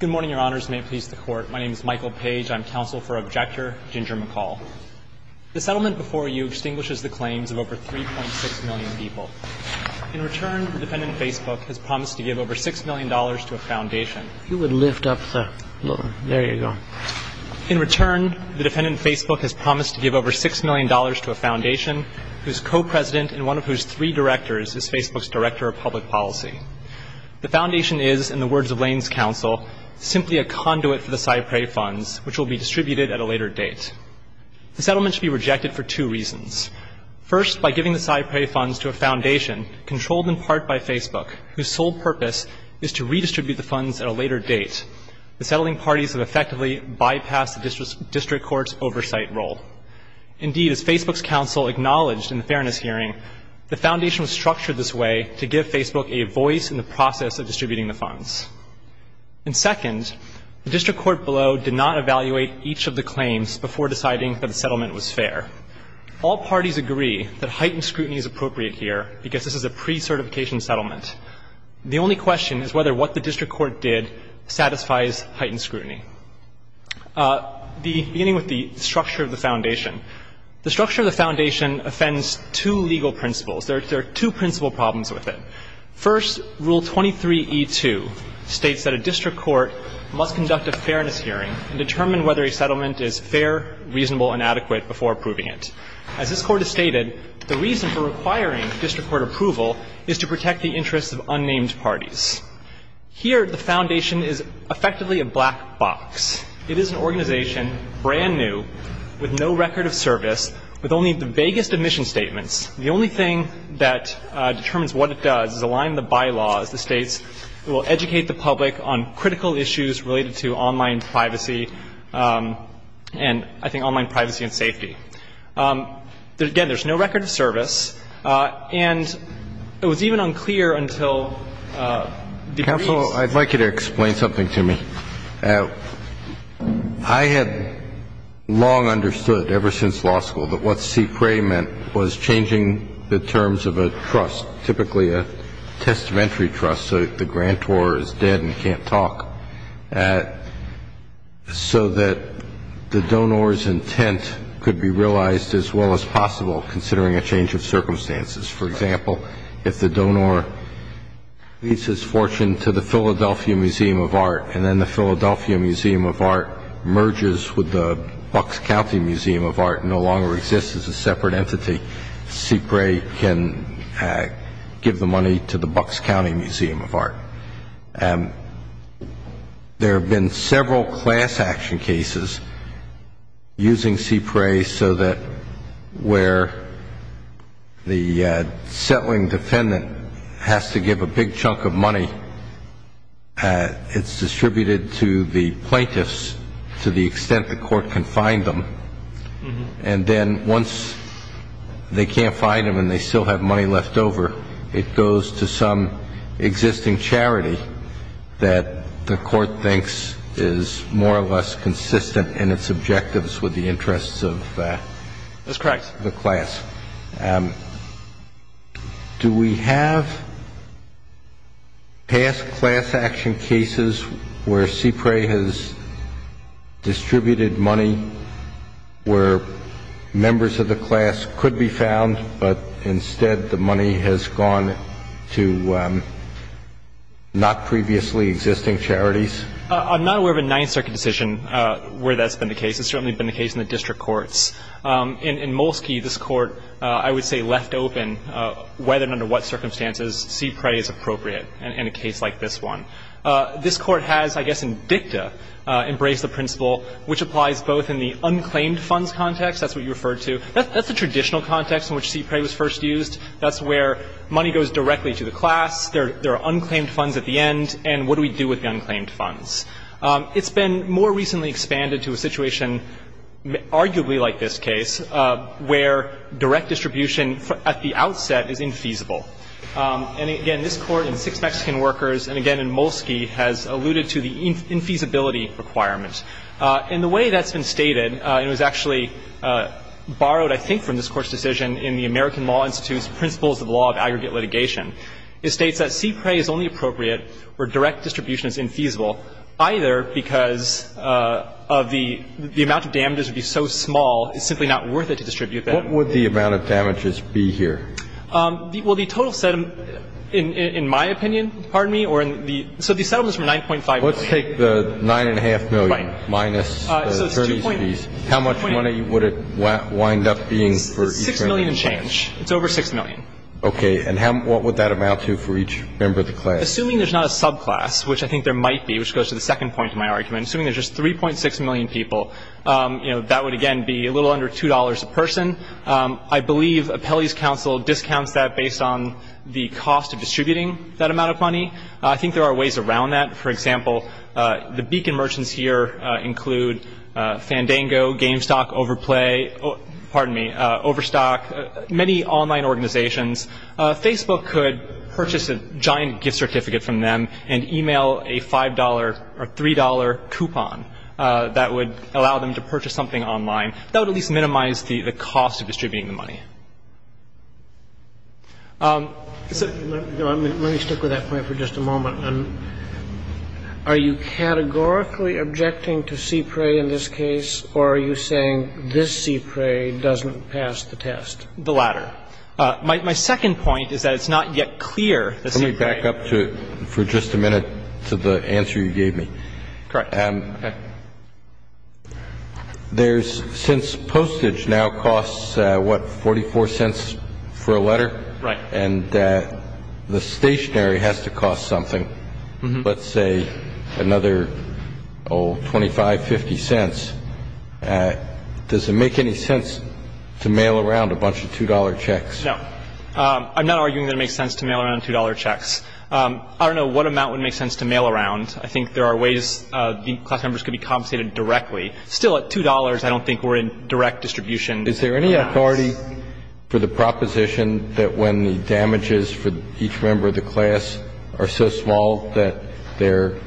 Good morning, Your Honors. May it please the Court. My name is Michael Page. I'm counsel for Objector Ginger McCall. The settlement before you extinguishes the claims of over 3.6 million people. In return, the defendant, Facebook, has promised to give over $6 million to a foundation. If you would lift up the, there you go. In return, the defendant, Facebook, has promised to give over $6 million to a foundation whose co-president and one of whose three directors is Facebook's director of public policy. The foundation is, in the words of Lane's counsel, simply a conduit for the CyPrae funds, which will be distributed at a later date. The settlement should be rejected for two reasons. First, by giving the CyPrae funds to a foundation, controlled in part by Facebook, whose sole purpose is to redistribute the funds at a later date. The settling parties have effectively bypassed the district court's oversight role. Indeed, as Facebook's counsel acknowledged in the Fairness Hearing, the foundation was structured this way to give Facebook a voice in the process of distributing the funds. And second, the district court below did not evaluate each of the claims before deciding that the settlement was fair. All parties agree that heightened scrutiny is appropriate here because this is a pre-certification settlement. The only question is whether what the district court did satisfies heightened scrutiny. The structure of the foundation offends two legal principles. There are two principal problems with it. First, Rule 23e2 states that a district court must conduct a fairness hearing and determine whether a settlement is fair, reasonable and adequate before approving it. As this Court has stated, the reason for requiring district court approval is to protect the interests of unnamed parties. Here, the foundation is effectively a black box. It is an organization, brand new, with no record of service, with only the vaguest admission statements. The only thing that determines what it does is align the bylaws. It states it will educate the public on critical issues related to online privacy and, I think, online privacy and safety. Again, there's no record of service. And it was even unclear until the briefs. Well, I'd like you to explain something to me. I had long understood ever since law school that what CPRE meant was changing the terms of a trust, typically a testamentary trust, so the grantor is dead and can't talk, so that the donor's intent could be realized as well as possible considering a change of circumstances. For example, if the donor leaves his fortune to the Philadelphia Museum of Art and then the Philadelphia Museum of Art merges with the Bucks County Museum of Art and no longer exists as a separate entity, CPRE can give the money to the Bucks County Museum of Art. There have been several class action cases using CPRE so that where the settling defendant has to give a big chunk of money, it's distributed to the plaintiffs to the extent the court can find them. And then once they can't find them and they still have money left over, it goes to some existing charity that the court thinks is more or less consistent in its objectives with the interests of the class. That's correct. Do we have past class action cases where CPRE has distributed money where members of the class could be found, but instead the money has gone to not previously existing charities? I'm not aware of a Ninth Circuit decision where that's been the case. It's certainly been the case in the district courts. In Molsky, this Court, I would say, left open whether and under what circumstances CPRE is appropriate in a case like this one. This Court has, I guess in dicta, embraced the principle, which applies both in the That's the traditional context in which CPRE was first used. That's where money goes directly to the class. There are unclaimed funds at the end. And what do we do with the unclaimed funds? It's been more recently expanded to a situation arguably like this case where direct distribution at the outset is infeasible. And, again, this Court in Six Mexican Workers and, again, in Molsky, has alluded to the infeasibility requirement. In the way that's been stated, and it was actually borrowed, I think, from this Court's decision in the American Law Institute's Principles of the Law of Aggregate Litigation, it states that CPRE is only appropriate where direct distribution is infeasible either because of the amount of damages would be so small, it's simply not worth it to distribute them. What would the amount of damages be here? Well, the total settlement, in my opinion, pardon me, or in the – so the settlement is from $9.5 million. Let's take the $9.5 million. $9.5 million minus the 30s fees. How much money would it wind up being for each member of the class? $6 million and change. It's over $6 million. Okay. And how – what would that amount to for each member of the class? Assuming there's not a subclass, which I think there might be, which goes to the second point of my argument, assuming there's just 3.6 million people, you know, that would, again, be a little under $2 a person. I believe Appellee's Counsel discounts that based on the cost of distributing that amount of money. I think there are ways around that. For example, the Beacon merchants here include Fandango, GameStock, Overplay, pardon me, Overstock, many online organizations. Facebook could purchase a giant gift certificate from them and email a $5 or $3 coupon that would allow them to purchase something online. That would at least minimize the cost of distributing the money. So let me stick with that point for just a moment. Are you categorically objecting to CPRAE in this case, or are you saying this CPRAE doesn't pass the test? The latter. My second point is that it's not yet clear that CPRAE. Let me back up for just a minute to the answer you gave me. Correct. Okay. There's, since postage now costs, what, $0.44 for a letter? Right. And the stationary has to cost something, let's say another, oh, $0.25, $0.50. Does it make any sense to mail around a bunch of $2 checks? No. I'm not arguing that it makes sense to mail around $2 checks. I don't know what amount would make sense to mail around. I think there are ways the class members could be compensated directly. Still, at $2, I don't think we're in direct distribution. Is there any authority for the proposition that when the damages for each member of the class are so small that they're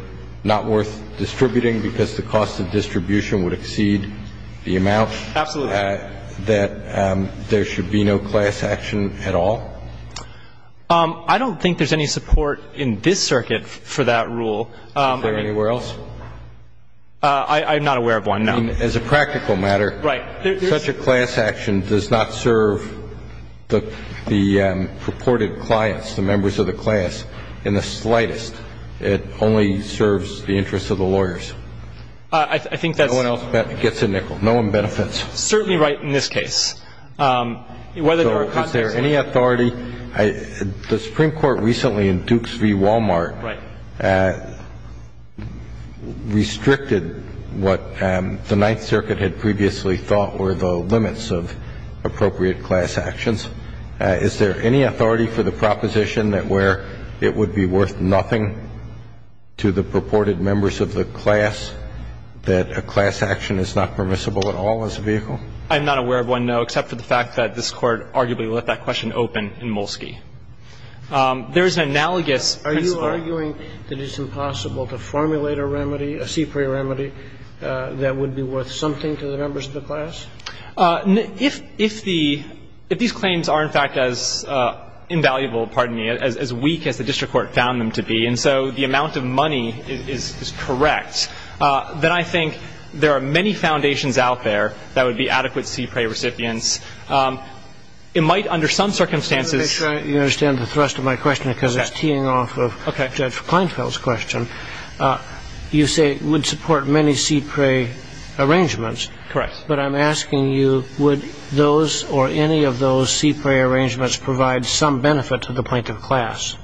not worth distributing because the cost of distribution would exceed the amount? Absolutely. That there should be no class action at all? I don't think there's any support in this circuit for that rule. Is there anywhere else? I'm not aware of one, no. As a practical matter. Right. Such a class action does not serve the purported clients, the members of the class, in the slightest. It only serves the interests of the lawyers. I think that's. No one else gets a nickel. No one benefits. Certainly right in this case. So is there any authority? The Supreme Court recently in Dukes v. Walmart. Right. Restricted what the Ninth Circuit had previously thought were the limits of appropriate class actions. Is there any authority for the proposition that where it would be worth nothing to the purported members of the class, that a class action is not permissible at all as a vehicle? I'm not aware of one, no, except for the fact that this Court arguably let that question open in Molsky. There is an analogous. Are you arguing that it's impossible to formulate a remedy, a CPRI remedy, that would be worth something to the members of the class? If these claims are, in fact, as invaluable, pardon me, as weak as the district court found them to be, and so the amount of money is correct, then I think there are many foundations out there that would be adequate CPRI recipients. It might, under some circumstances. Let me make sure you understand the thrust of my question because it's teeing off of Judge Kleinfeld's question. You say it would support many CPRI arrangements. Correct. But I'm asking you, would those or any of those CPRI arrangements provide some benefit to the plaintiff class?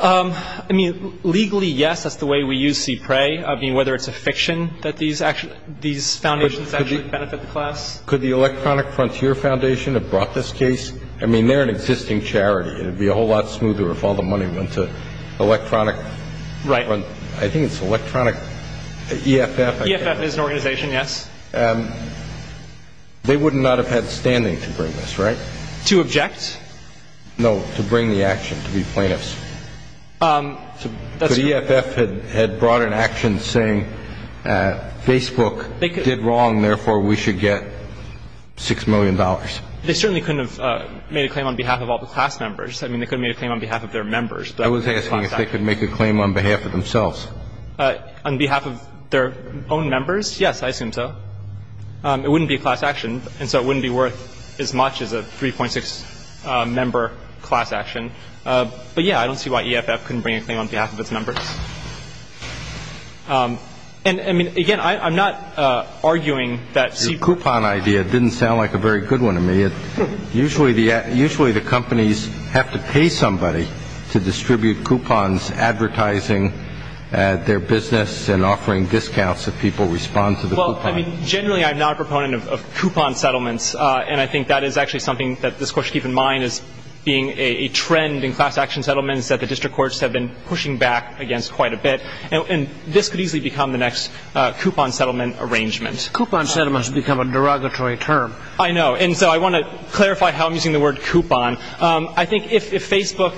I mean, legally, yes. That's the way we use CPRI. I mean, whether it's a fiction that these foundations actually benefit the class. Could the Electronic Frontier Foundation have brought this case? I mean, they're an existing charity. It would be a whole lot smoother if all the money went to Electronic Front. Right. I think it's Electronic EFF. EFF is an organization, yes. They would not have had standing to bring this, right? To object? No, to bring the action, to be plaintiffs. The EFF had brought an action saying Facebook did wrong, therefore we should get $6 million. They certainly couldn't have made a claim on behalf of all the class members. I mean, they could have made a claim on behalf of their members. I was asking if they could make a claim on behalf of themselves. On behalf of their own members? Yes, I assume so. It wouldn't be a class action, and so it wouldn't be worth as much as a 3.6 member class action. But, yeah, I don't see why EFF couldn't bring a claim on behalf of its members. And, I mean, again, I'm not arguing that CPRI. Your coupon idea didn't sound like a very good one to me. Usually the companies have to pay somebody to distribute coupons advertising their business and offering discounts if people respond to the coupon. Well, I mean, generally I'm not a proponent of coupon settlements, and I think that is actually something that this Court should keep in mind as being a trend in class action settlements that the district courts have been pushing back against quite a bit. And this could easily become the next coupon settlement arrangement. Coupon settlements become a derogatory term. I know, and so I want to clarify how I'm using the word coupon. I think if Facebook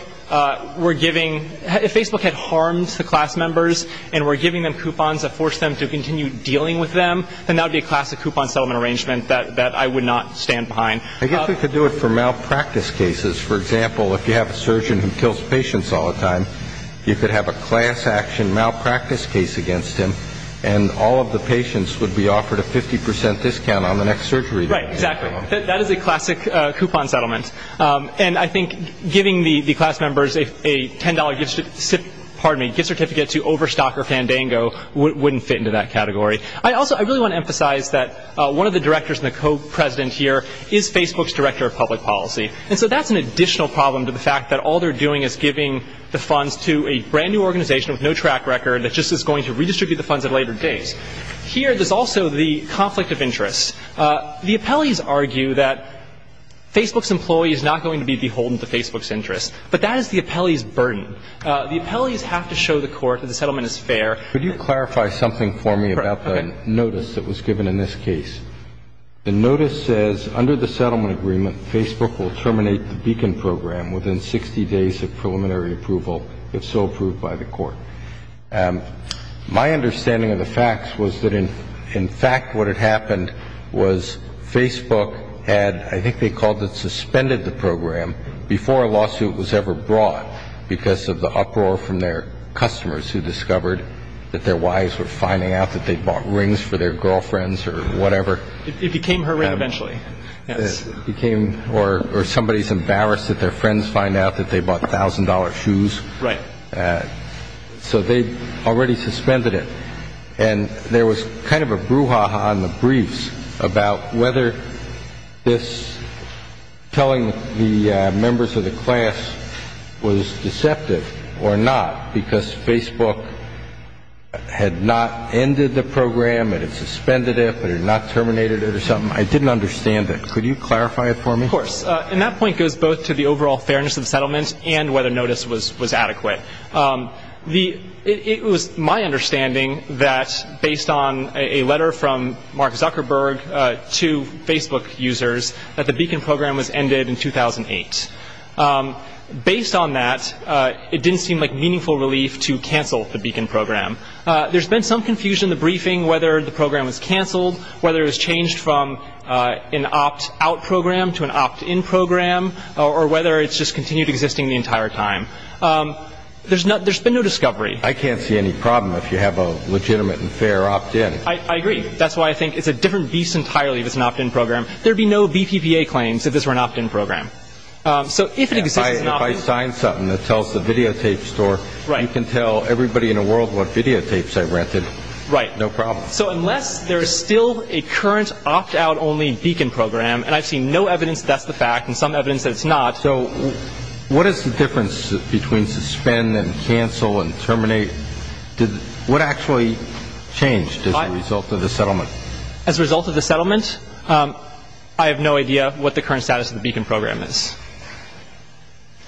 were giving – if Facebook had harmed the class members and were giving them coupons that forced them to continue dealing with them, then that would be a classic coupon settlement arrangement that I would not stand behind. I guess we could do it for malpractice cases. For example, if you have a surgeon who kills patients all the time, you could have a class action malpractice case against him, and all of the patients would be offered a 50 percent discount on the next surgery. Right, exactly. That is a classic coupon settlement. And I think giving the class members a $10 gift certificate to Overstock or Fandango wouldn't fit into that category. I also – I really want to emphasize that one of the directors and the co-president here is Facebook's director of public policy. And so that's an additional problem to the fact that all they're doing is giving the funds to a brand-new organization with no track record that just is going to redistribute the funds at later days. Here, there's also the conflict of interest. The appellees argue that Facebook's employee is not going to be beholden to Facebook's interests, but that is the appellee's burden. The appellees have to show the court that the settlement is fair. Could you clarify something for me about the notice that was given in this case? The notice says, Under the settlement agreement, Facebook will terminate the Beacon program within 60 days of preliminary approval, if so approved by the court. My understanding of the facts was that, in fact, what had happened was Facebook had, I think they called it, suspended the program before a lawsuit was ever brought because of the uproar from their customers who discovered that their wives were finding out that they'd bought rings for their girlfriends or whatever. It became her ring eventually. It became – or somebody's embarrassed that their friends find out that they bought $1,000 shoes. Right. So they'd already suspended it. And there was kind of a brouhaha on the briefs about whether this telling the members of the class was deceptive or not, because Facebook had not ended the program. It had suspended it, but it had not terminated it or something. I didn't understand it. Could you clarify it for me? Of course. And that point goes both to the overall fairness of the settlement and whether notice was adequate. It was my understanding that, based on a letter from Mark Zuckerberg to Facebook users, that the Beacon program was ended in 2008. Based on that, it didn't seem like meaningful relief to cancel the Beacon program. There's been some confusion in the briefing whether the program was canceled, whether it was changed from an opt-out program to an opt-in program, or whether it just continued existing the entire time. There's been no discovery. I can't see any problem if you have a legitimate and fair opt-in. I agree. That's why I think it's a different beast entirely if it's an opt-in program. There would be no BPPA claims if this were an opt-in program. So if it exists as an opt-in. And if I sign something that tells the videotape store, you can tell everybody in the world what videotapes I rented, no problem. So unless there's still a current opt-out only Beacon program, and I've seen no evidence that that's the fact and some evidence that it's not. So what is the difference between suspend and cancel and terminate? What actually changed as a result of the settlement? As a result of the settlement, I have no idea what the current status of the Beacon program is.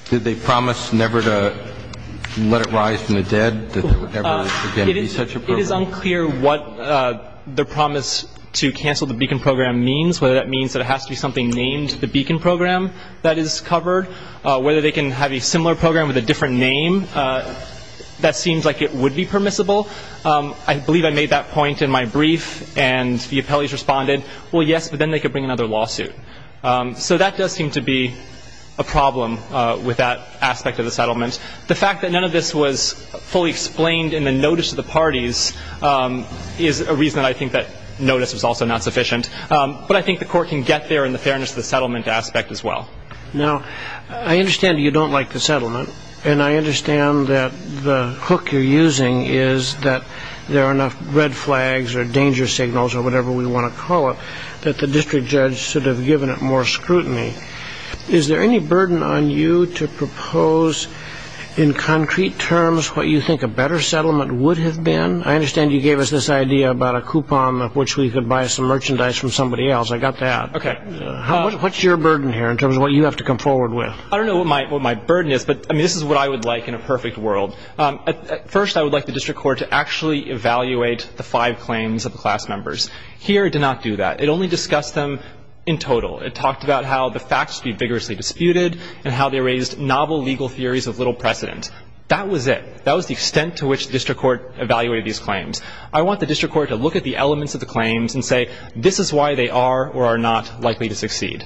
Did they promise never to let it rise from the dead, that there would never again be such a program? It is unclear what the promise to cancel the Beacon program means, whether that means that it has to be something named the Beacon program that is covered, whether they can have a similar program with a different name that seems like it would be permissible. I believe I made that point in my brief, and the appellees responded, well, yes, but then they could bring another lawsuit. So that does seem to be a problem with that aspect of the settlement. The fact that none of this was fully explained in the notice of the parties is a reason that I think that notice was also not sufficient. But I think the court can get there in the fairness of the settlement aspect as well. Now, I understand you don't like the settlement, and I understand that the hook you're using is that there are enough red flags or danger signals or whatever we want to call it that the district judge should have given it more scrutiny. Is there any burden on you to propose in concrete terms what you think a better settlement would have been? I understand you gave us this idea about a coupon of which we could buy some merchandise from somebody else. I got that. Okay. What's your burden here in terms of what you have to come forward with? I don't know what my burden is, but this is what I would like in a perfect world. First, I would like the district court to actually evaluate the five claims of the class members. Here it did not do that. It only discussed them in total. It talked about how the facts should be vigorously disputed and how they raised novel legal theories of little precedent. That was it. That was the extent to which the district court evaluated these claims. I want the district court to look at the elements of the claims and say, this is why they are or are not likely to succeed.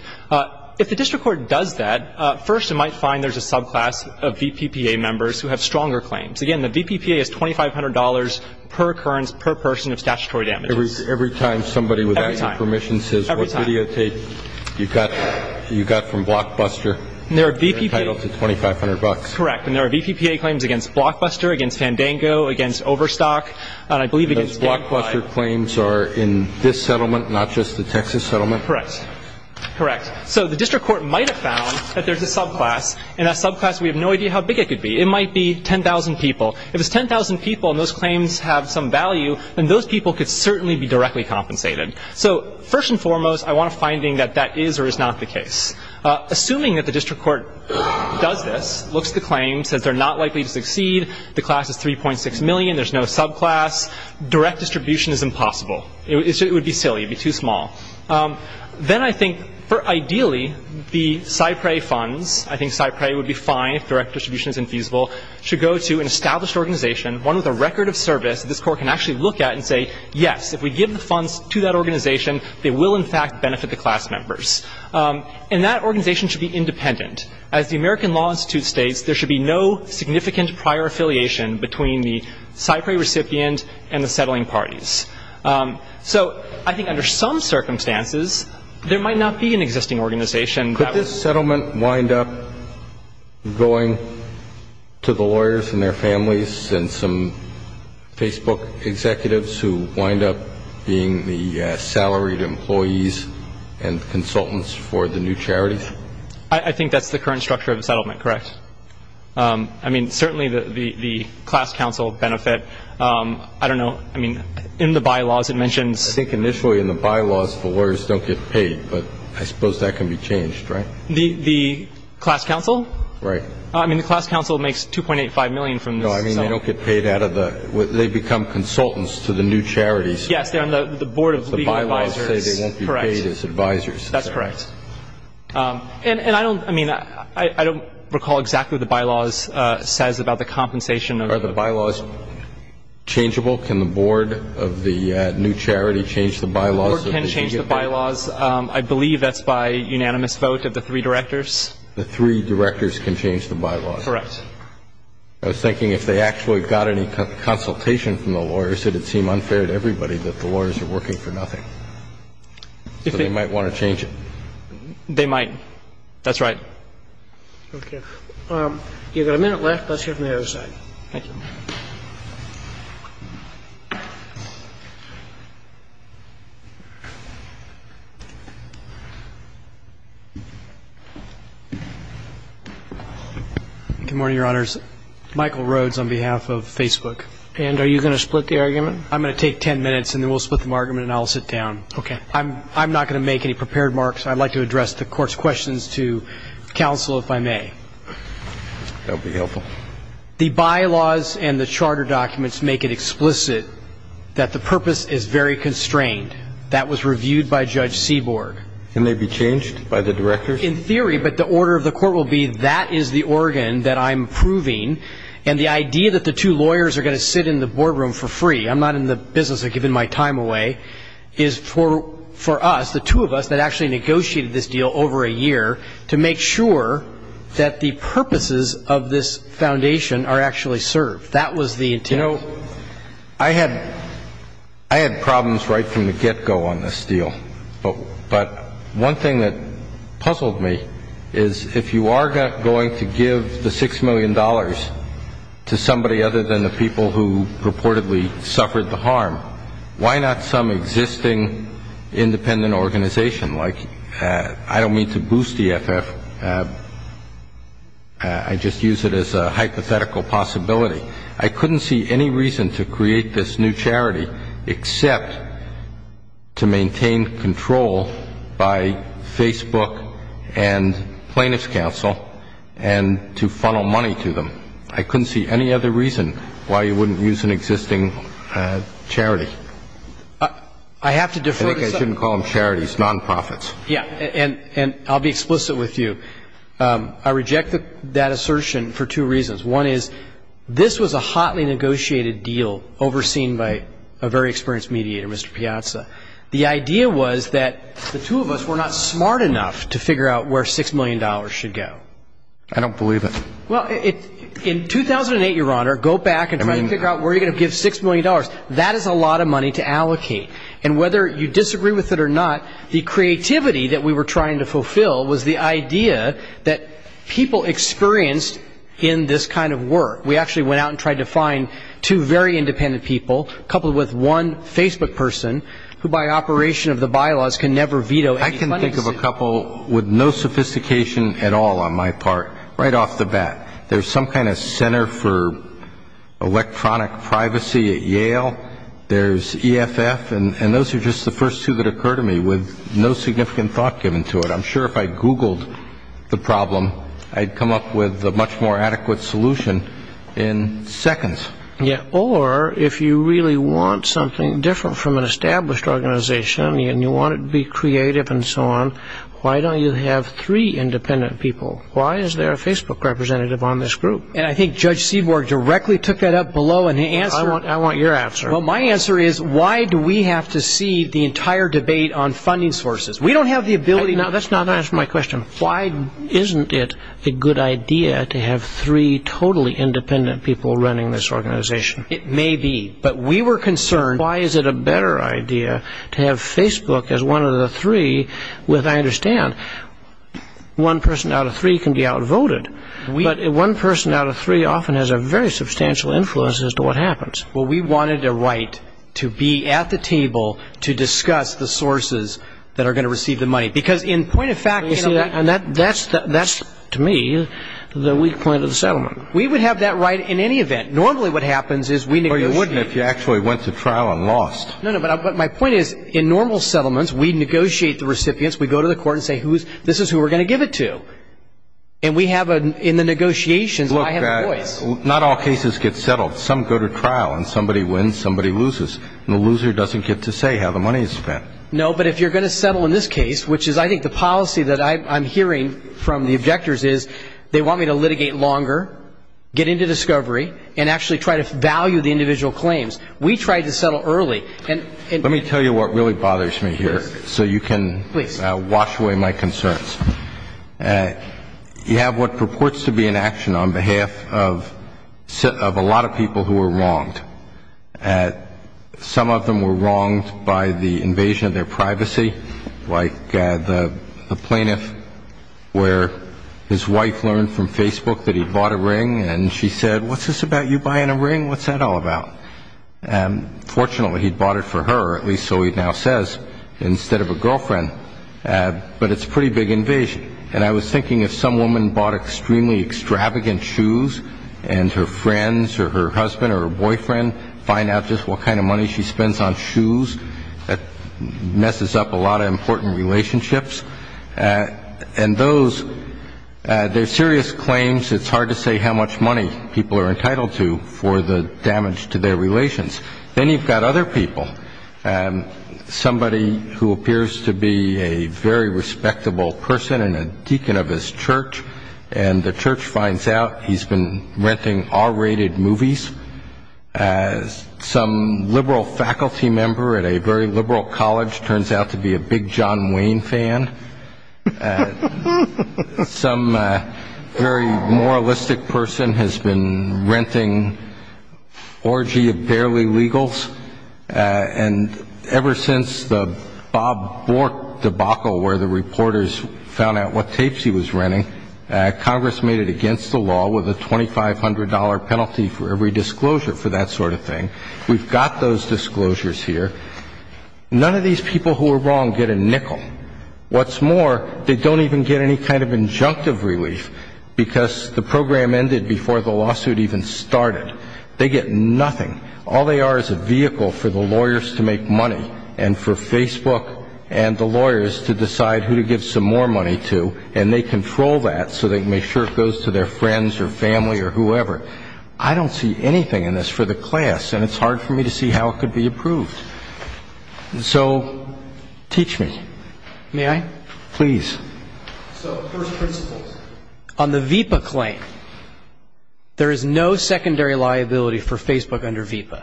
If the district court does that, first it might find there's a subclass of VPPA members who have stronger claims. Again, the VPPA is $2,500 per occurrence per person of statutory damages. Every time somebody without your permission says, what videotape you got from Blockbuster, you're entitled to $2,500. Correct. And there are VPPA claims against Blockbuster, against Fandango, against Overstock. Those Blockbuster claims are in this settlement, not just the Texas settlement? Correct. Correct. So the district court might have found that there's a subclass, and that subclass we have no idea how big it could be. It might be 10,000 people. If it's 10,000 people and those claims have some value, then those people could certainly be directly compensated. So first and foremost, I want a finding that that is or is not the case. Assuming that the district court does this, looks at the claims, says they're not likely to succeed, the class is $3.6 million, there's no subclass, direct distribution is impossible. It would be silly. It would be too small. Then I think, ideally, the SIPRE funds, I think SIPRE would be fine if direct distribution is infeasible, should go to an established organization, one with a record of service that this Court can actually look at and say, yes, if we give the funds to that organization, they will, in fact, benefit the class members. And that organization should be independent. As the American Law Institute states, there should be no significant prior affiliation between the SIPRE recipient and the settling parties. So I think under some circumstances, there might not be an existing organization. Could this settlement wind up going to the lawyers and their families and some Facebook executives who wind up being the salaried employees and consultants for the new charities? I think that's the current structure of the settlement, correct. I mean, certainly the class counsel benefit. I don't know. I mean, in the bylaws it mentions. I think initially in the bylaws the lawyers don't get paid, but I suppose that can be changed, right? The class counsel? Right. I mean, the class counsel makes $2.85 million from this. No, I mean, they don't get paid out of the ‑‑ they become consultants to the new charities. Yes, they're on the board of legal advisors. The bylaws say they won't be paid as advisors. That's correct. And I don't, I mean, I don't recall exactly what the bylaws says about the compensation. Are the bylaws changeable? Can the board of the new charity change the bylaws? The board can change the bylaws. I believe that's by unanimous vote of the three directors. The three directors can change the bylaws. Correct. I was thinking if they actually got any consultation from the lawyers, it would seem unfair to everybody that the lawyers are working for nothing. So they might want to change it. They might. That's right. Okay. You've got a minute left. Let's hear from the other side. Thank you. Good morning, Your Honors. Michael Rhodes on behalf of Facebook. And are you going to split the argument? I'm going to take ten minutes, and then we'll split the argument, and I'll sit down. Okay. I'm not going to make any prepared marks. I'd like to address the Court's questions to counsel, if I may. The bylaws say that the board of the new charity is not paid as advisors. The bylaws and the charter documents make it explicit that the purpose is very constrained. That was reviewed by Judge Seaborg. Can they be changed by the directors? In theory, but the order of the court will be that is the organ that I'm approving, and the idea that the two lawyers are going to sit in the boardroom for free, I'm not in the business of giving my time away, is for us, the two of us that actually negotiated this deal over a year, to make sure that the purposes of this foundation are actually served. That was the intent. You know, I had problems right from the get-go on this deal. But one thing that puzzled me is, if you are going to give the $6 million to somebody other than the people who reportedly suffered the harm, why not some existing independent organization? Like, I don't mean to boost EFF. I just use it as a hypothetical possibility. I couldn't see any reason to create this new charity, except to maintain control by Facebook and Plaintiff's Counsel and to funnel money to them. I couldn't see any other reason why you wouldn't use an existing charity. I have to defer to the second. Yeah, and I'll be explicit with you. I reject that assertion for two reasons. One is, this was a hotly negotiated deal overseen by a very experienced mediator, Mr. Piazza. The idea was that the two of us were not smart enough to figure out where $6 million should go. I don't believe it. Well, in 2008, Your Honor, go back and try to figure out where you're going to give $6 million. That is a lot of money to allocate. And whether you disagree with it or not, the creativity that we were trying to fulfill was the idea that people experienced in this kind of work. We actually went out and tried to find two very independent people, coupled with one Facebook person who, by operation of the bylaws, can never veto any money. I can think of a couple with no sophistication at all on my part, right off the bat. There's some kind of Center for Electronic Privacy at Yale. There's EFF, and those are just the first two that occur to me with no significant thought given to it. I'm sure if I Googled the problem, I'd come up with a much more adequate solution in seconds. Yeah, or if you really want something different from an established organization and you want it to be creative and so on, why don't you have three independent people? Why is there a Facebook representative on this group? And I think Judge Seaborg directly took that up below in the answer. I want your answer. Well, my answer is why do we have to see the entire debate on funding sources? We don't have the ability. Now, that's not answering my question. Why isn't it a good idea to have three totally independent people running this organization? It may be, but we were concerned. Why is it a better idea to have Facebook as one of the three with, I understand, one person out of three can be outvoted, but one person out of three often has a very substantial influence as to what happens. Well, we wanted a right to be at the table to discuss the sources that are going to receive the money, because in point of fact, you see, that's, to me, the weak point of the settlement. We would have that right in any event. Normally what happens is we negotiate. Or you wouldn't if you actually went to trial and lost. No, no, but my point is in normal settlements, we negotiate the recipients. We go to the court and say this is who we're going to give it to. And we have, in the negotiations, I have a voice. Look, not all cases get settled. Some go to trial, and somebody wins, somebody loses. And the loser doesn't get to say how the money is spent. No, but if you're going to settle in this case, which is, I think, the policy that I'm hearing from the objectors is, they want me to litigate longer, get into discovery, and actually try to value the individual claims. We tried to settle early. Let me tell you what really bothers me here so you can wash away my concerns. You have what purports to be an action on behalf of a lot of people who were wronged. Some of them were wronged by the invasion of their privacy, like the plaintiff where his wife learned from Facebook that he'd bought a ring, and she said, What's this about you buying a ring? What's that all about? Fortunately, he'd bought it for her, at least so he now says, instead of a girlfriend. But it's a pretty big invasion. And I was thinking if some woman bought extremely extravagant shoes, and her friends or her husband or her boyfriend find out just what kind of money she spends on shoes, that messes up a lot of important relationships. And those, they're serious claims. It's hard to say how much money people are entitled to for the damage to their relations. Then you've got other people. Somebody who appears to be a very respectable person and a deacon of his church, and the church finds out he's been renting R-rated movies. Some liberal faculty member at a very liberal college turns out to be a big John Wayne fan. Some very moralistic person has been renting orgy of barely legals. And ever since the Bob Bork debacle where the reporters found out what tapes he was renting, Congress made it against the law with a $2,500 penalty for every disclosure for that sort of thing. We've got those disclosures here. None of these people who were wrong get a nickel. What's more, they don't even get any kind of injunctive relief because the program ended before the lawsuit even started. They get nothing. All they are is a vehicle for the lawyers to make money and for Facebook and the lawyers to decide who to give some more money to, and they control that so they can make sure it goes to their friends or family or whoever. I don't see anything in this for the class, and it's hard for me to see how it could be approved. So teach me. May I? Please. So first principles. On the VIPA claim, there is no secondary liability for Facebook under VIPA,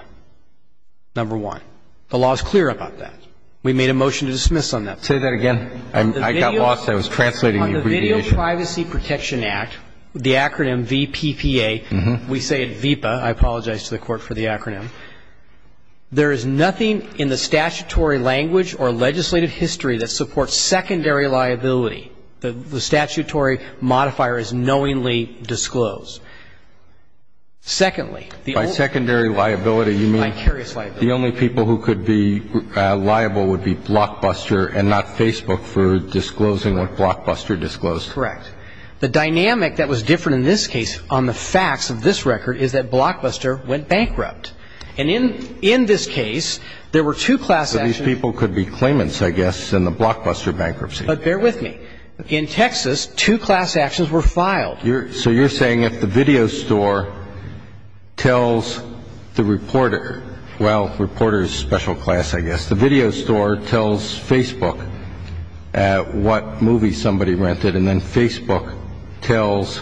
number one. The law is clear about that. We made a motion to dismiss on that. Say that again. I got lost. I was translating the abbreviation. On the Video Privacy Protection Act, the acronym VPPA, we say it VIPA. I apologize to the Court for the acronym. There is nothing in the statutory language or legislative history that supports secondary liability. The statutory modifier is knowingly disclosed. Secondly, the only people who could be liable would be Blockbuster and not Facebook for disclosing what Blockbuster disclosed. Correct. The dynamic that was different in this case on the facts of this record is that Blockbuster went bankrupt. And in this case, there were two class actions. So these people could be claimants, I guess, in the Blockbuster bankruptcy. But bear with me. In Texas, two class actions were filed. So you're saying if the video store tells the reporter, well, reporter is a special class, I guess. The video store tells Facebook what movie somebody rented. And then Facebook tells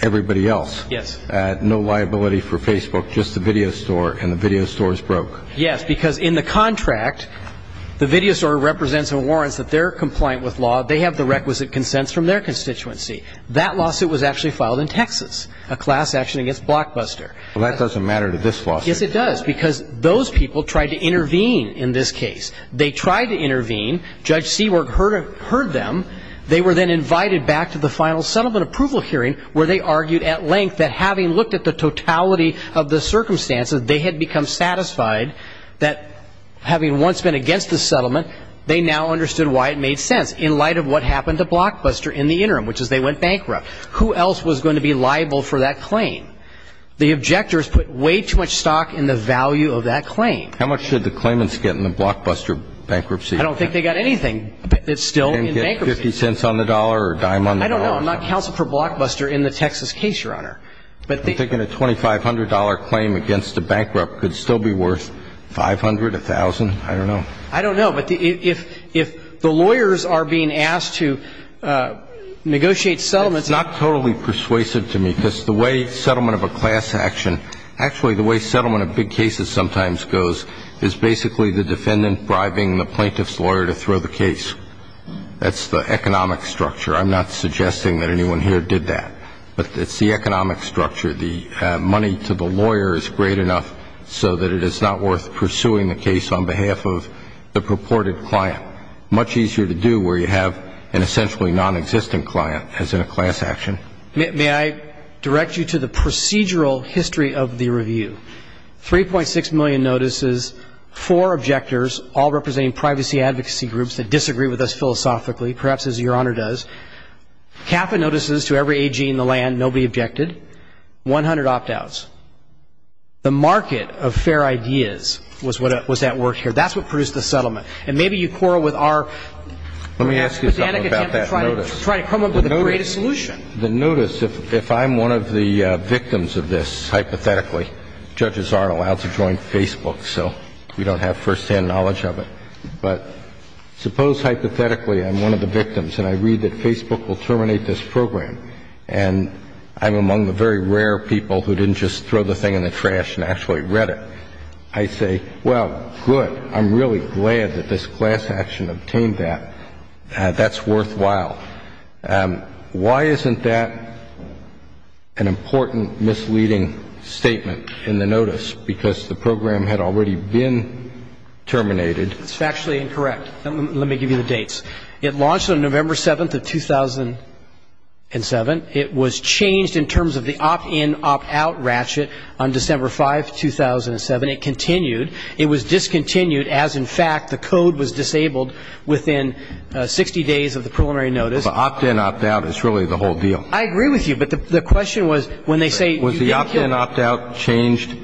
everybody else. Yes. No liability for Facebook, just the video store. And the video store is broke. Yes, because in the contract, the video store represents and warrants that they're compliant with law. They have the requisite consents from their constituency. That lawsuit was actually filed in Texas, a class action against Blockbuster. Well, that doesn't matter to this lawsuit. Yes, it does, because those people tried to intervene in this case. They tried to intervene. Judge Seawork heard them. They were then invited back to the final settlement approval hearing, where they argued at length that having looked at the totality of the circumstances, they had become satisfied that having once been against the settlement, they now understood why it made sense in light of what happened to Blockbuster in the interim, which is they went bankrupt. Who else was going to be liable for that claim? The objectors put way too much stock in the value of that claim. How much should the claimants get in the Blockbuster bankruptcy? I don't think they got anything that's still in bankruptcy. Can they get 50 cents on the dollar or a dime on the dollar? I don't know. I'm not counsel for Blockbuster in the Texas case, Your Honor. I'm thinking a $2,500 claim against a bankrupt could still be worth 500, 1,000. I don't know. I don't know. But if the lawyers are being asked to negotiate settlements. It's not totally persuasive to me because the way settlement of a class action, actually the way settlement of big cases sometimes goes is basically the defendant bribing the plaintiff's lawyer to throw the case. That's the economic structure. I'm not suggesting that anyone here did that. But it's the economic structure. The money to the lawyer is great enough so that it is not worth pursuing the case on behalf of the purported client. Much easier to do where you have an essentially nonexistent client as in a class action. May I direct you to the procedural history of the review? 3.6 million notices, four objectors, all representing privacy advocacy groups that disagree with us philosophically, perhaps as Your Honor does. Half the notices to every AG in the land, nobody objected. 100 opt-outs. The market of fair ideas was at work here. That's what produced the settlement. And maybe you quarrel with our pedantic attempt to try to come up with a greater solution. The notice, if I'm one of the victims of this, hypothetically, judges aren't allowed to join Facebook, so we don't have firsthand knowledge of it. But suppose hypothetically I'm one of the victims and I read that Facebook will terminate this program and I'm among the very rare people who didn't just throw the thing in the trash and actually read it. I say, well, good. I'm really glad that this class action obtained that. That's worthwhile. Why isn't that an important misleading statement in the notice? Because the program had already been terminated. It's factually incorrect. Let me give you the dates. It launched on November 7th of 2007. It was changed in terms of the opt-in, opt-out ratchet on December 5th, 2007. It continued. It was discontinued as, in fact, the code was disabled within 60 days of the preliminary notice. But opt-in, opt-out is really the whole deal. I agree with you. But the question was when they say you didn't kill them. Was the opt-in, opt-out changed?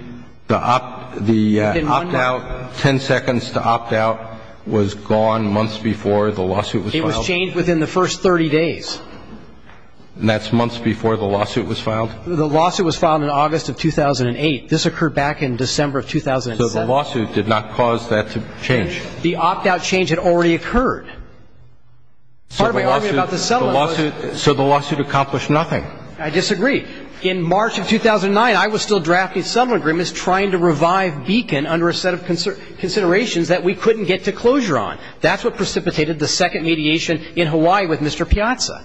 The opt-out, 10 seconds to opt-out was gone months before the lawsuit was filed? It was changed within the first 30 days. And that's months before the lawsuit was filed? The lawsuit was filed in August of 2008. This occurred back in December of 2007. So the lawsuit did not cause that to change? The opt-out change had already occurred. So the lawsuit accomplished nothing? I disagree. In March of 2009, I was still drafting a settlement agreement trying to revive Beacon under a set of considerations that we couldn't get to closure on. That's what precipitated the second mediation in Hawaii with Mr. Piazza.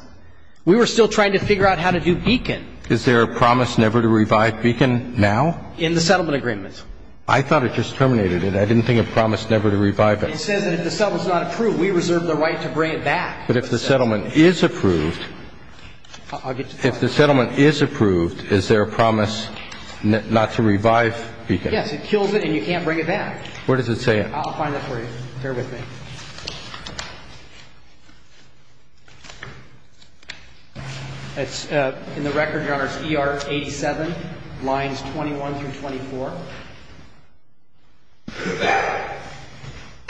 We were still trying to figure out how to do Beacon. Is there a promise never to revive Beacon now? In the settlement agreement. I thought it just terminated it. I didn't think it promised never to revive it. It says that if the settlement is not approved, we reserve the right to bring it back. But if the settlement is approved, if the settlement is approved, is there a promise not to revive Beacon? Yes. It kills it and you can't bring it back. Where does it say it? I'll find it for you. Bear with me. It's in the record, Your Honor, it's ER 87, lines 21 through 24.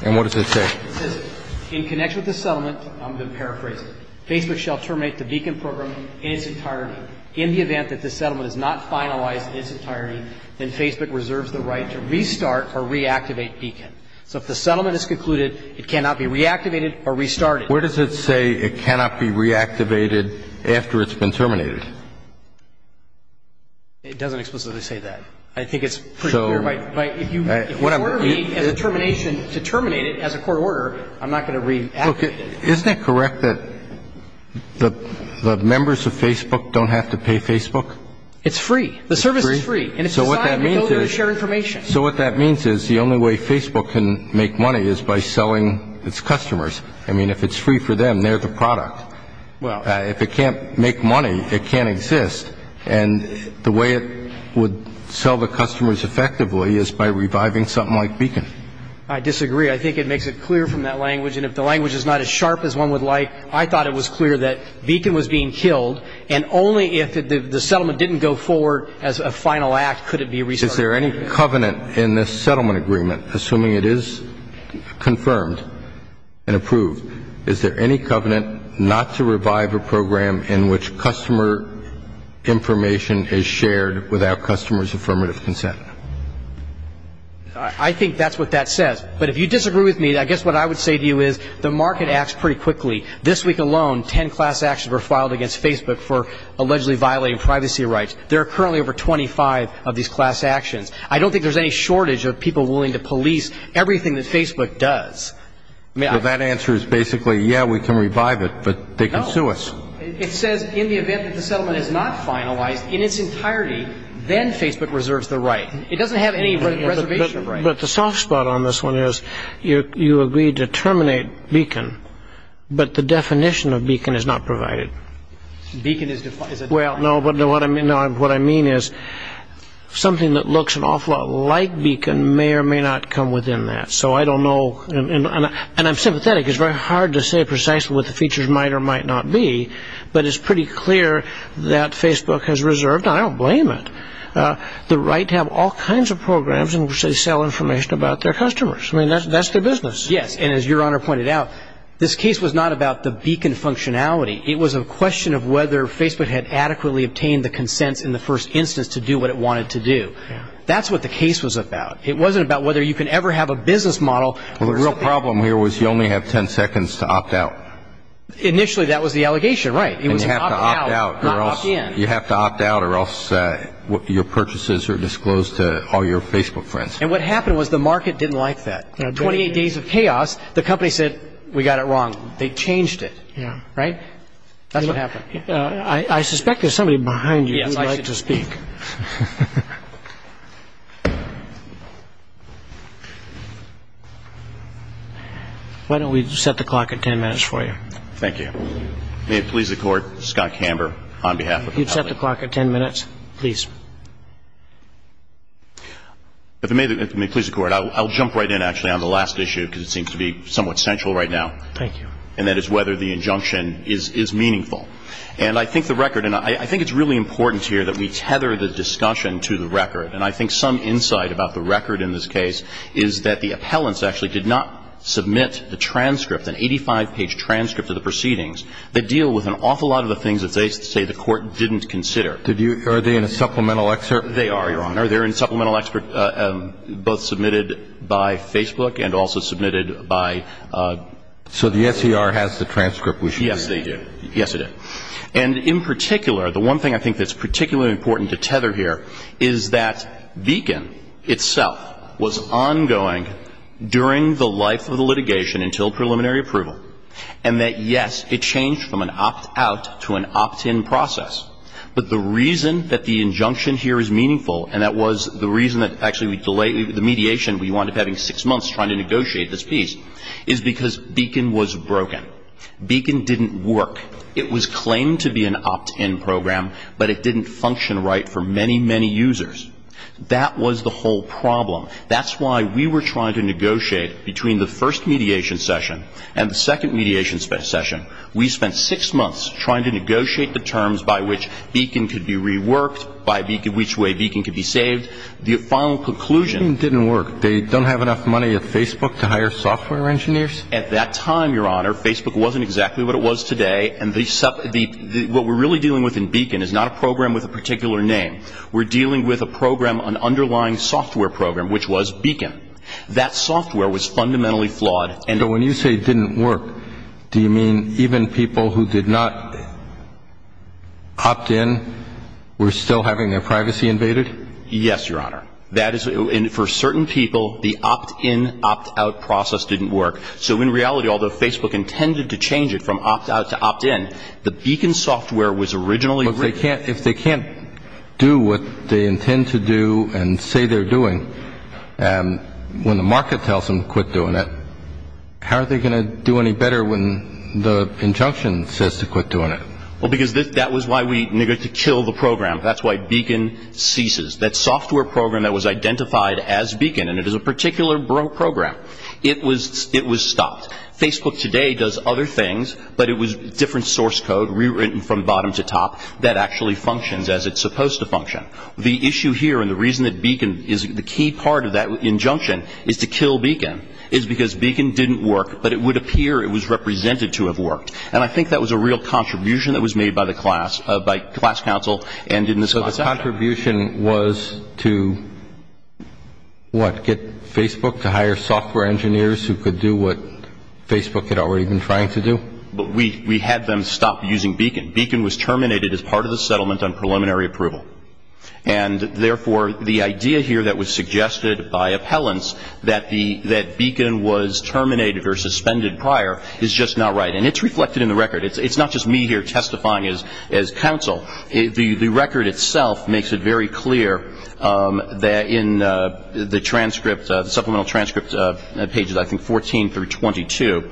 And what does it say? It says in connection with the settlement, I'm going to paraphrase it. Facebook shall terminate the Beacon program in its entirety. In the event that the settlement is not finalized in its entirety, then Facebook reserves the right to restart or reactivate Beacon. So if the settlement is concluded, it cannot be reactivated or restarted. Where does it say it cannot be reactivated after it's been terminated? It doesn't explicitly say that. I think it's pretty clear. If you order me as a termination to terminate it as a court order, I'm not going to reactivate it. Isn't it correct that the members of Facebook don't have to pay Facebook? It's free. The service is free. And it's decided to go there and share information. So what that means is the only way Facebook can make money is by selling its customers. I mean, if it's free for them, they're the product. If it can't make money, it can't exist. And the way it would sell the customers effectively is by reviving something like Beacon. I disagree. I think it makes it clear from that language. And if the language is not as sharp as one would like, I thought it was clear that Beacon was being killed, and only if the settlement didn't go forward as a final act could it be restarted. Is there any covenant in this settlement agreement, assuming it is confirmed and approved, is there any covenant not to revive a program in which customer information is shared without customers' affirmative consent? I think that's what that says. But if you disagree with me, I guess what I would say to you is the market acts pretty quickly. This week alone, ten class actions were filed against Facebook for allegedly violating privacy rights. There are currently over 25 of these class actions. I don't think there's any shortage of people willing to police everything that Facebook does. Well, that answer is basically, yeah, we can revive it, but they can sue us. No. It says in the event that the settlement is not finalized in its entirety, then Facebook reserves the right. It doesn't have any reservation rights. But the soft spot on this one is you agreed to terminate Beacon, but the definition of Beacon is not provided. Beacon is defined. Well, no, but what I mean is something that looks an awful lot like Beacon may or may not come within that. So I don't know, and I'm sympathetic. It's very hard to say precisely what the features might or might not be, but it's pretty clear that Facebook has reserved, and I don't blame it, the right to have all kinds of programs in which they sell information about their customers. I mean, that's their business. Yes, and as Your Honor pointed out, this case was not about the Beacon functionality. It was a question of whether Facebook had adequately obtained the consents in the first instance to do what it wanted to do. That's what the case was about. It wasn't about whether you could ever have a business model. Well, the real problem here was you only have ten seconds to opt out. Initially, that was the allegation, right. And you have to opt out or else your purchases are disclosed to all your Facebook friends. And what happened was the market didn't like that. Twenty-eight days of chaos, the company said, we got it wrong. They changed it, right. That's what happened. I suspect there's somebody behind you who would like to speak. Yes, I should speak. Why don't we set the clock at ten minutes for you. Thank you. May it please the Court, Scott Camber on behalf of the company. You'd set the clock at ten minutes, please. If it may please the Court, I'll jump right in, actually, on the last issue because it seems to be somewhat central right now. Thank you. And that is whether the injunction is meaningful. And I think the record, and I think it's really important here that we tether the discussion to the record. And I think some insight about the record in this case is that the appellants actually did not submit a transcript, an 85-page transcript of the proceedings that deal with an awful lot of the things that they say the Court didn't consider. Are they in a supplemental excerpt? They are, Your Honor. They're in a supplemental excerpt, both submitted by Facebook and also submitted by... So the SCR has the transcript. Yes, they do. Yes, it does. And in particular, the one thing I think that's particularly important to tether here is that Beacon itself was ongoing during the life of the litigation until preliminary approval, and that, yes, it changed from an opt-out to an opt-in process. But the reason that the injunction here is meaningful, and that was the reason that actually the mediation we wound up having six months trying to negotiate this piece, is because Beacon was broken. Beacon didn't work. It was claimed to be an opt-in program, but it didn't function right for many, many users. That was the whole problem. That's why we were trying to negotiate between the first mediation session and the second mediation session. We spent six months trying to negotiate the terms by which Beacon could be reworked, by which way Beacon could be saved. The final conclusion... Beacon didn't work. They don't have enough money at Facebook to hire software engineers? At that time, Your Honor, Facebook wasn't exactly what it was today, and what we're really dealing with in Beacon is not a program with a particular name. We're dealing with a program, an underlying software program, which was Beacon. That software was fundamentally flawed. But when you say it didn't work, do you mean even people who did not opt-in were still having their privacy invaded? Yes, Your Honor. For certain people, the opt-in, opt-out process didn't work. So in reality, although Facebook intended to change it from opt-out to opt-in, the Beacon software was originally... But if they can't do what they intend to do and say they're doing, and when the market tells them quit doing it, how are they going to do any better when the injunction says to quit doing it? Well, because that was why we needed to kill the program. That's why Beacon ceases. That software program that was identified as Beacon, and it is a particular program, it was stopped. Facebook today does other things, but it was different source code rewritten from bottom to top that actually functions as it's supposed to function. The issue here, and the reason that Beacon is the key part of that injunction is to kill Beacon, is because Beacon didn't work, but it would appear it was represented to have worked. And I think that was a real contribution that was made by the class, by class counsel. So the contribution was to, what, get Facebook to hire software engineers who could do what Facebook had already been trying to do? We had them stop using Beacon. Beacon was terminated as part of the settlement on preliminary approval. And, therefore, the idea here that was suggested by appellants that Beacon was terminated or suspended prior is just not right. And it's reflected in the record. It's not just me here testifying as counsel. The record itself makes it very clear that in the transcript, the supplemental transcript, pages, I think, 14 through 22,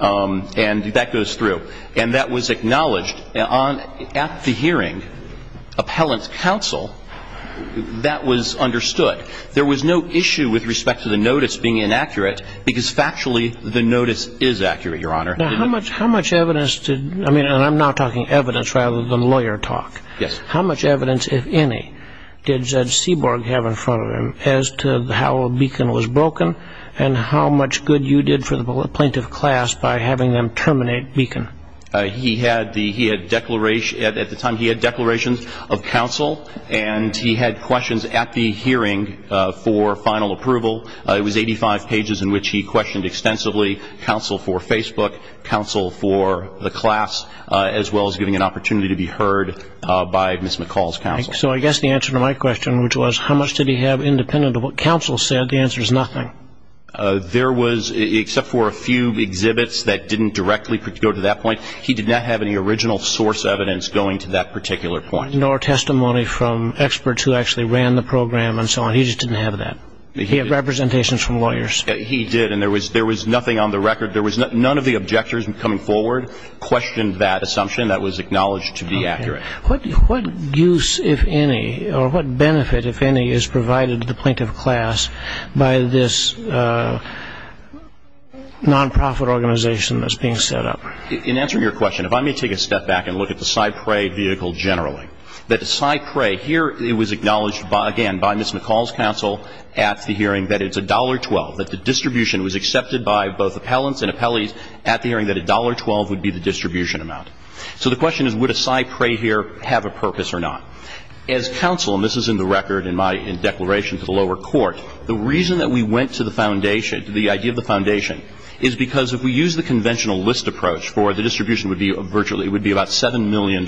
and that goes through. And that was acknowledged. At the hearing, appellant's counsel, that was understood. There was no issue with respect to the notice being inaccurate because, factually, the notice is accurate, Your Honor. Now, how much evidence did, I mean, and I'm not talking evidence rather than lawyer talk. Yes. How much evidence, if any, did Judge Seaborg have in front of him as to how Beacon was broken and how much good you did for the plaintiff class by having them terminate Beacon? He had the, he had declaration, at the time he had declarations of counsel, and he had questions at the hearing for final approval. It was 85 pages in which he questioned extensively counsel for Facebook, counsel for the class, as well as giving an opportunity to be heard by Ms. McCall's counsel. So I guess the answer to my question, which was how much did he have independent of what counsel said, the answer is nothing. There was, except for a few exhibits that didn't directly go to that point, he did not have any original source evidence going to that particular point. Nor testimony from experts who actually ran the program and so on. He just didn't have that. He had representations from lawyers. He did, and there was nothing on the record. There was none of the objectors coming forward questioned that assumption. That was acknowledged to be accurate. What use, if any, or what benefit, if any, is provided to the plaintiff class by this nonprofit organization that's being set up? In answering your question, if I may take a step back and look at the Cypre vehicle generally. The Cypre, here it was acknowledged, again, by Ms. McCall's counsel at the hearing that it's $1.12, that the distribution was accepted by both appellants and appellees at the hearing that $1.12 would be the distribution amount. So the question is would a Cypre here have a purpose or not? As counsel, and this is in the record in my declaration to the lower court, the reason that we went to the foundation, the idea of the foundation, is because if we use the conventional list approach for the distribution would be virtually, it would be about $7 million,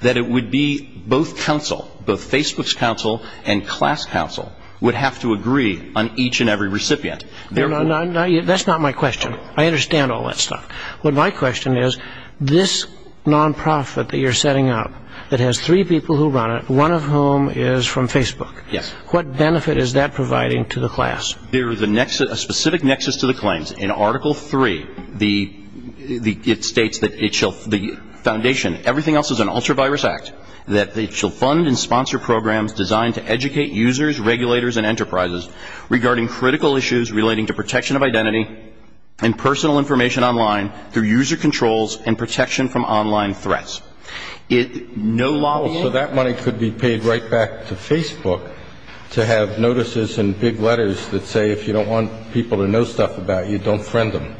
that it would be both counsel, both Facebook's counsel and class counsel, would have to agree on each and every recipient. That's not my question. I understand all that stuff. But my question is this nonprofit that you're setting up that has three people who run it, one of whom is from Facebook. Yes. What benefit is that providing to the class? There is a specific nexus to the claims. In Article 3, it states that the foundation, everything else is an ultra-virus act, that it shall fund and sponsor programs designed to educate users, regulators and enterprises regarding critical issues relating to protection of identity and personal information online through user controls and protection from online threats. So that money could be paid right back to Facebook to have notices and big letters that say if you don't want people to know stuff about you, don't friend them.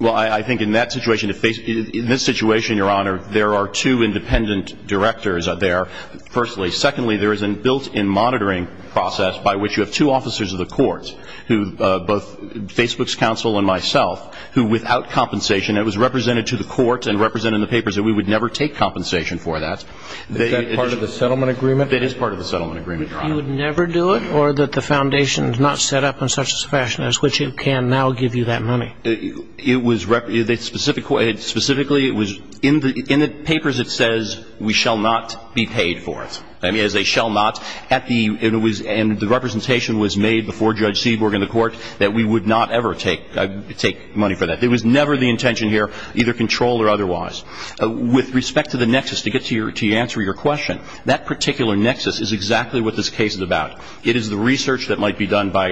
Well, I think in this situation, Your Honor, there are two independent directors there, firstly. Secondly, there is a built-in monitoring process by which you have two officers of the courts, both Facebook's counsel and myself, who without compensation, it was represented to the court and represented in the papers that we would never take compensation for that. Is that part of the settlement agreement? It is part of the settlement agreement, Your Honor. You would never do it or that the foundation is not set up in such a fashion as which it can now give you that money? Specifically, it was in the papers it says we shall not be paid for it. As they shall not, and the representation was made before Judge Seaborg in the court that we would not ever take money for that. There was never the intention here, either control or otherwise. With respect to the nexus, to answer your question, that particular nexus is exactly what this case is about. It is the research that might be done by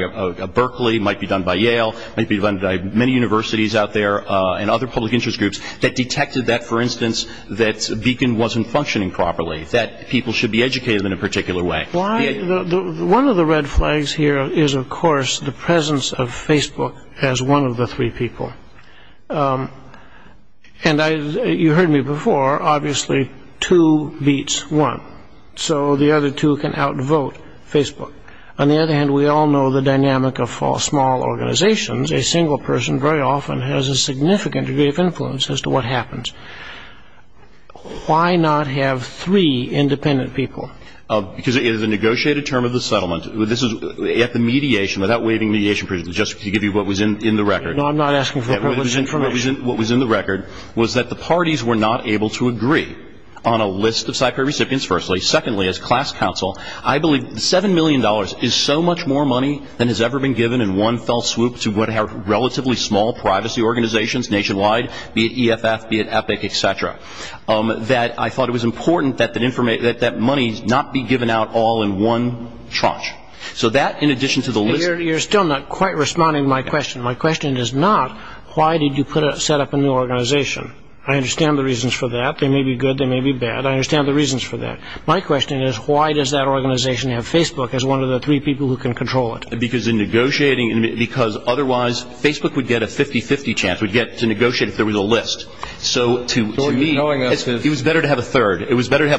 Berkeley, might be done by Yale, might be done by many universities out there and other public interest groups that detected that, for instance, that Beacon wasn't functioning properly, that people should be educated in a particular way. One of the red flags here is, of course, the presence of Facebook as one of the three people. And you heard me before, obviously two beats one. So the other two can outvote Facebook. On the other hand, we all know the dynamic of small organizations. A single person very often has a significant degree of influence as to what happens. Why not have three independent people? Because it is a negotiated term of the settlement. This is at the mediation, without waiving mediation, just to give you what was in the record. No, I'm not asking for what was in the record. What was in the record was that the parties were not able to agree on a list of Cypher recipients, firstly. Secondly, as class counsel, I believe $7 million is so much more money than has ever been given in one fell swoop to relatively small privacy organizations nationwide, be it EFF, be it EPIC, et cetera, that I thought it was important that that money not be given out all in one tranche. So that, in addition to the list... You're still not quite responding to my question. My question is not, why did you set up a new organization? I understand the reasons for that. They may be good. They may be bad. I understand the reasons for that. My question is, why does that organization have Facebook as one of the three people who can control it? Because in negotiating, because otherwise Facebook would get a 50-50 chance, would get to negotiate if there was a list. So to me, it was better to have a third. You're presenting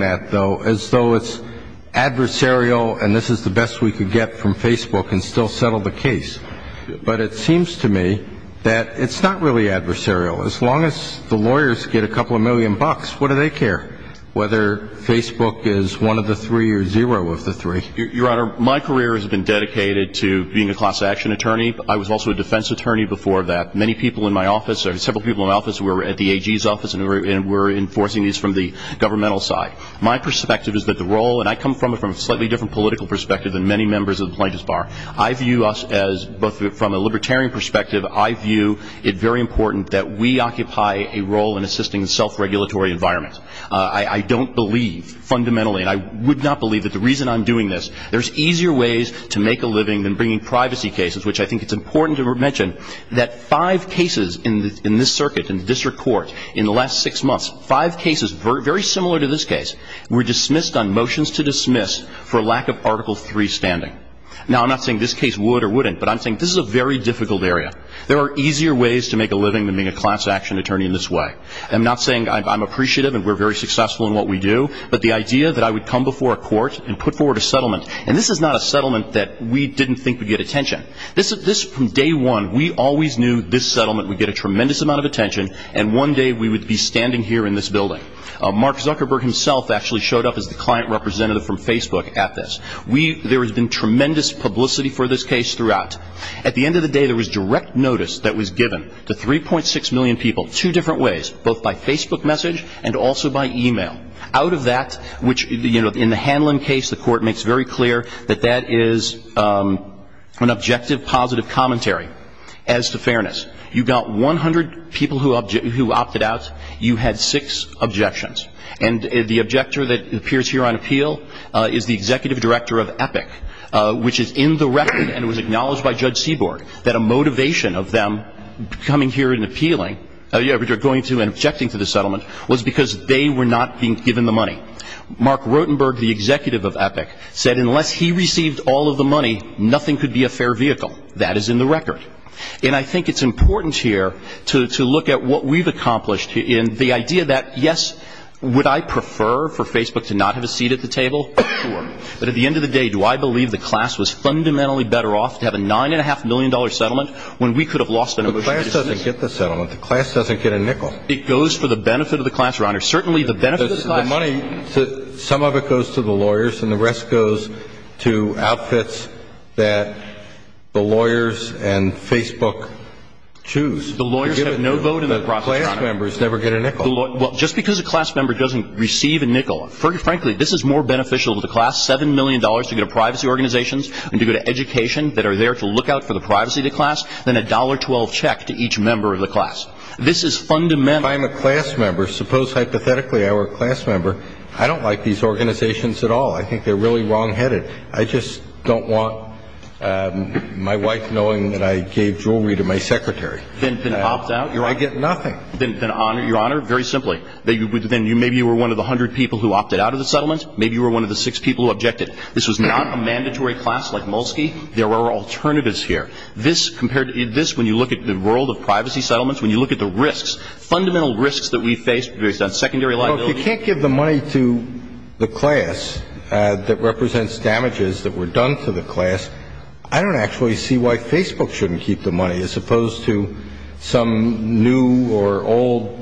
that, though, as though it's adversarial and this is the best we could get from Facebook and still settle the case. But it seems to me that it's not really adversarial. As long as the lawyers get a couple of million bucks, what do they care, whether Facebook is one of the three or zero of the three? Your Honor, my career has been dedicated to being a class action attorney. I was also a defense attorney before that. Many people in my office, several people in my office were at the AG's office and were enforcing these from the governmental side. My perspective is that the role, and I come from a slightly different political perspective than many members of the plaintiff's bar. I view us as, both from a libertarian perspective, I view it very important that we occupy a role in assisting the self-regulatory environment. I don't believe fundamentally, and I would not believe that the reason I'm doing this, there's easier ways to make a living than bringing privacy cases, which I think it's important to mention, that five cases in this circuit, in the district court, in the last six months, five cases very similar to this case, were dismissed on motions to dismiss for lack of Article III standing. Now, I'm not saying this case would or wouldn't, but I'm saying this is a very difficult area. There are easier ways to make a living than being a class action attorney in this way. I'm not saying I'm appreciative and we're very successful in what we do, but the idea that I would come before a court and put forward a settlement, and this is not a settlement that we didn't think would get attention. This, from day one, we always knew this settlement would get a tremendous amount of attention, and one day we would be standing here in this building. Mark Zuckerberg himself actually showed up as the client representative from Facebook at this. There has been tremendous publicity for this case throughout. At the end of the day, there was direct notice that was given to 3.6 million people, two different ways, both by Facebook message and also by e-mail. Out of that, which, you know, in the Hanlon case, the court makes very clear that that is an objective, positive commentary as to fairness. You got 100 people who opted out. You had six objections. And the objector that appears here on appeal is the executive director of Epic, which is in the record and was acknowledged by Judge Seaborg that a motivation of them coming here and objecting to the settlement was because they were not being given the money. Mark Rotenberg, the executive of Epic, said unless he received all of the money, nothing could be a fair vehicle. That is in the record. And I think it's important here to look at what we've accomplished in the idea that, yes, would I prefer for Facebook to not have a seat at the table? Sure. But at the end of the day, do I believe the class was fundamentally better off to have a $9.5 million settlement when we could have lost it? The class doesn't get the settlement. The class doesn't get a nickel. It goes for the benefit of the class, Your Honor. Certainly, the benefit of the class. The money, some of it goes to the lawyers and the rest goes to outfits that the lawyers and Facebook choose. The lawyers have no vote in the process, Your Honor. The class members never get a nickel. Well, just because a class member doesn't receive a nickel, frankly, this is more beneficial to the class, $7 million to go to privacy organizations and to go to education that are there to look out for the privacy of the class than a $1.12 check to each member of the class. This is fundamental. If I'm a class member, suppose hypothetically I were a class member, I don't like these organizations at all. I think they're really wrongheaded. I just don't want my wife knowing that I gave jewelry to my secretary. Then opt out? I get nothing. Then, Your Honor, very simply, maybe you were one of the 100 people who opted out of the settlement. Maybe you were one of the six people who objected. This was not a mandatory class like Mulski. There were alternatives here. This, when you look at the world of privacy settlements, when you look at the risks, fundamental risks that we face based on secondary liability. Well, if you can't give the money to the class that represents damages that were done to the class, I don't actually see why Facebook shouldn't keep the money as opposed to some new or old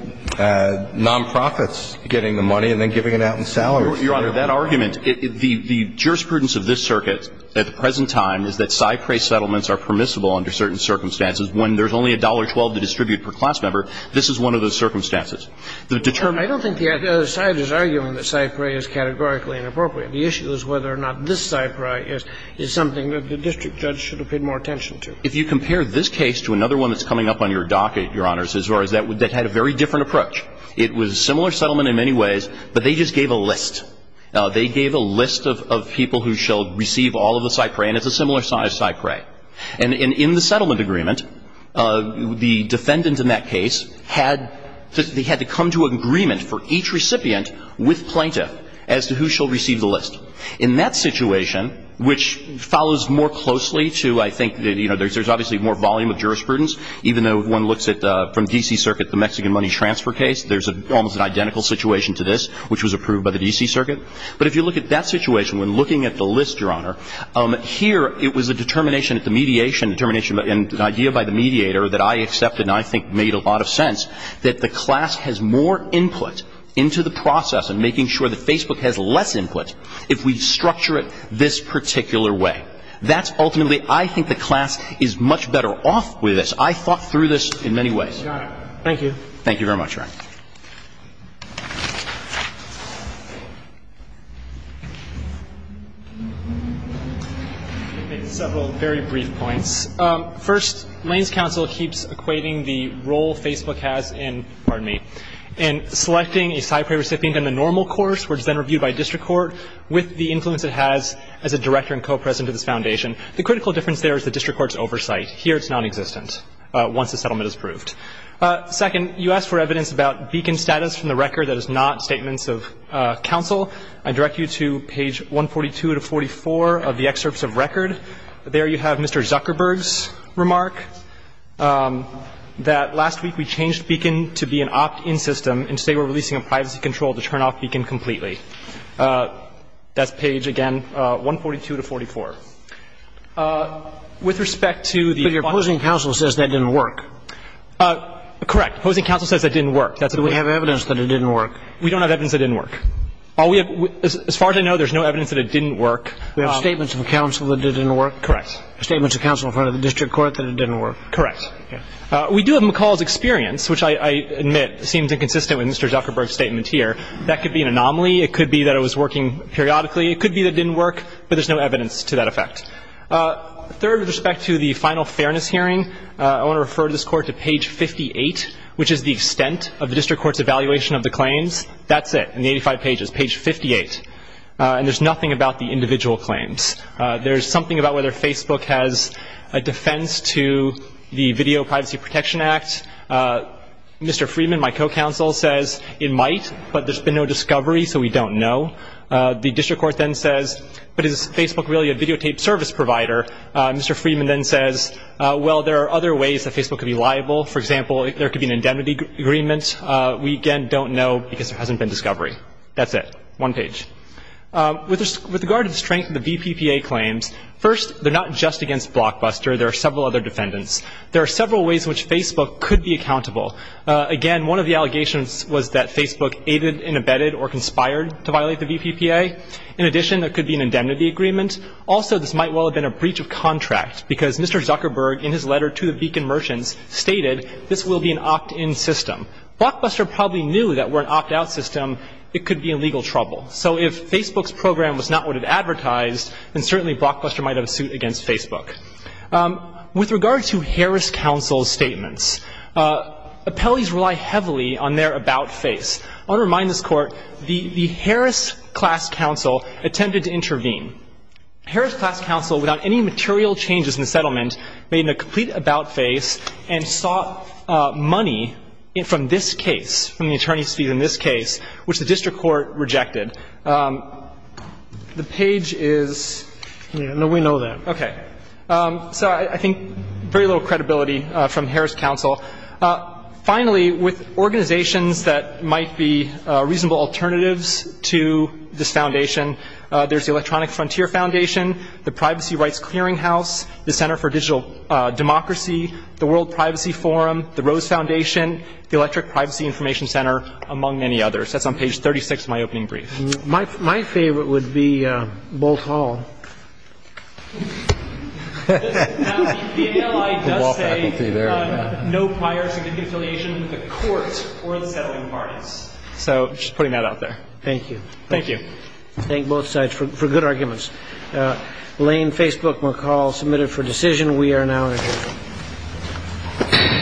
nonprofits getting the money and then giving it out in salaries. Your Honor, that argument, the jurisprudence of this circuit at the present time is that CyPray settlements are permissible under certain circumstances. When there's only $1.12 to distribute per class member, this is one of those circumstances. I don't think the other side is arguing that CyPray is categorically inappropriate. The issue is whether or not this CyPray is something that the district judge should have paid more attention to. If you compare this case to another one that's coming up on your docket, Your Honor, that had a very different approach. It was a similar settlement in many ways, but they just gave a list. They gave a list of people who shall receive all of the CyPray, and it's a similar size CyPray. And in the settlement agreement, the defendant in that case had to come to an agreement for each recipient with plaintiff as to who shall receive the list. In that situation, which follows more closely to, I think, there's obviously more volume of jurisprudence, even though one looks at, from D.C. Circuit, the Mexican money transfer case, there's almost an identical situation to this, which was approved by the D.C. Circuit. But if you look at that situation, when looking at the list, Your Honor, here it was a determination at the mediation, determination and idea by the mediator that I accepted and I think made a lot of sense that the class has more input into the process and making sure that Facebook has less input if we structure it this particular way. That's ultimately, I think, the class is much better off with this. I thought through this in many ways. Thank you. Thank you very much, Your Honor. I'll make several very brief points. First, Lane's counsel keeps equating the role Facebook has in, pardon me, in selecting a CyPray recipient in a normal course which is then reviewed by district court with the influence it has as a director and co-president of this foundation. The critical difference there is the district court's oversight. Here it's nonexistent once the settlement is approved. Second, you asked for evidence about Beacon status from the record. That is not statements of counsel. I direct you to page 142 to 44 of the excerpts of record. There you have Mr. Zuckerberg's remark that last week we changed Beacon to be an opt-in system and today we're releasing a privacy control to turn off Beacon completely. That's page, again, 142 to 44. With respect to the function of the system. There's no evidence that it didn't work. Correct. Opposing counsel says it didn't work. We have evidence that it didn't work. We don't have evidence that it didn't work. As far as I know, there's no evidence that it didn't work. We have statements of counsel that it didn't work? Correct. Statements of counsel in front of the district court that it didn't work? Correct. We do have McCall's experience, which I admit seems inconsistent with Mr. Zuckerberg's statement here. That could be an anomaly. It could be that it was working periodically. It could be that it didn't work, but there's no evidence to that effect. Third, with respect to the final fairness hearing, I want to refer to this court to page 58, which is the extent of the district court's evaluation of the claims. That's it. In the 85 pages. Page 58. And there's nothing about the individual claims. There's something about whether Facebook has a defense to the Video Privacy Protection Act. Mr. Freeman, my co-counsel, says it might, but there's been no discovery, so we don't know. The district court then says, but is Facebook really a videotaped service provider? Mr. Freeman then says, well, there are other ways that Facebook could be liable. For example, there could be an indemnity agreement. We, again, don't know because there hasn't been discovery. That's it. One page. With regard to the strength of the VPPA claims, first, they're not just against Blockbuster. There are several other defendants. There are several ways in which Facebook could be accountable. Again, one of the allegations was that Facebook aided and abetted or conspired to violate the VPPA. In addition, there could be an indemnity agreement. Also, this might well have been a breach of contract because Mr. Zuckerberg, in his letter to the Beacon merchants, stated this will be an opt-in system. Blockbuster probably knew that were it an opt-out system, it could be in legal trouble. So if Facebook's program was not what it advertised, then certainly Blockbuster might have a suit against Facebook. With regard to Harris Counsel's statements, appellees rely heavily on their about-face. I want to remind this Court, the Harris class counsel attempted to intervene. Harris class counsel, without any material changes in the settlement, made a complete about-face and sought money from this case, from the attorney's fees in this case, which the district court rejected. The page is no, we know that. Okay. So I think very little credibility from Harris counsel. Finally, with organizations that might be reasonable alternatives to this foundation, there's the Electronic Frontier Foundation, the Privacy Rights Clearinghouse, the Center for Digital Democracy, the World Privacy Forum, the Rose Foundation, the Electric Privacy Information Center, among many others. That's on page 36 of my opening brief. My favorite would be Bolt Hall. Now, the PLI does say no prior significant affiliation with the court or the settling parties. So just putting that out there. Thank you. Thank you. Thank both sides for good arguments. Lane, Facebook, McCall, submitted for decision. We are now adjourned.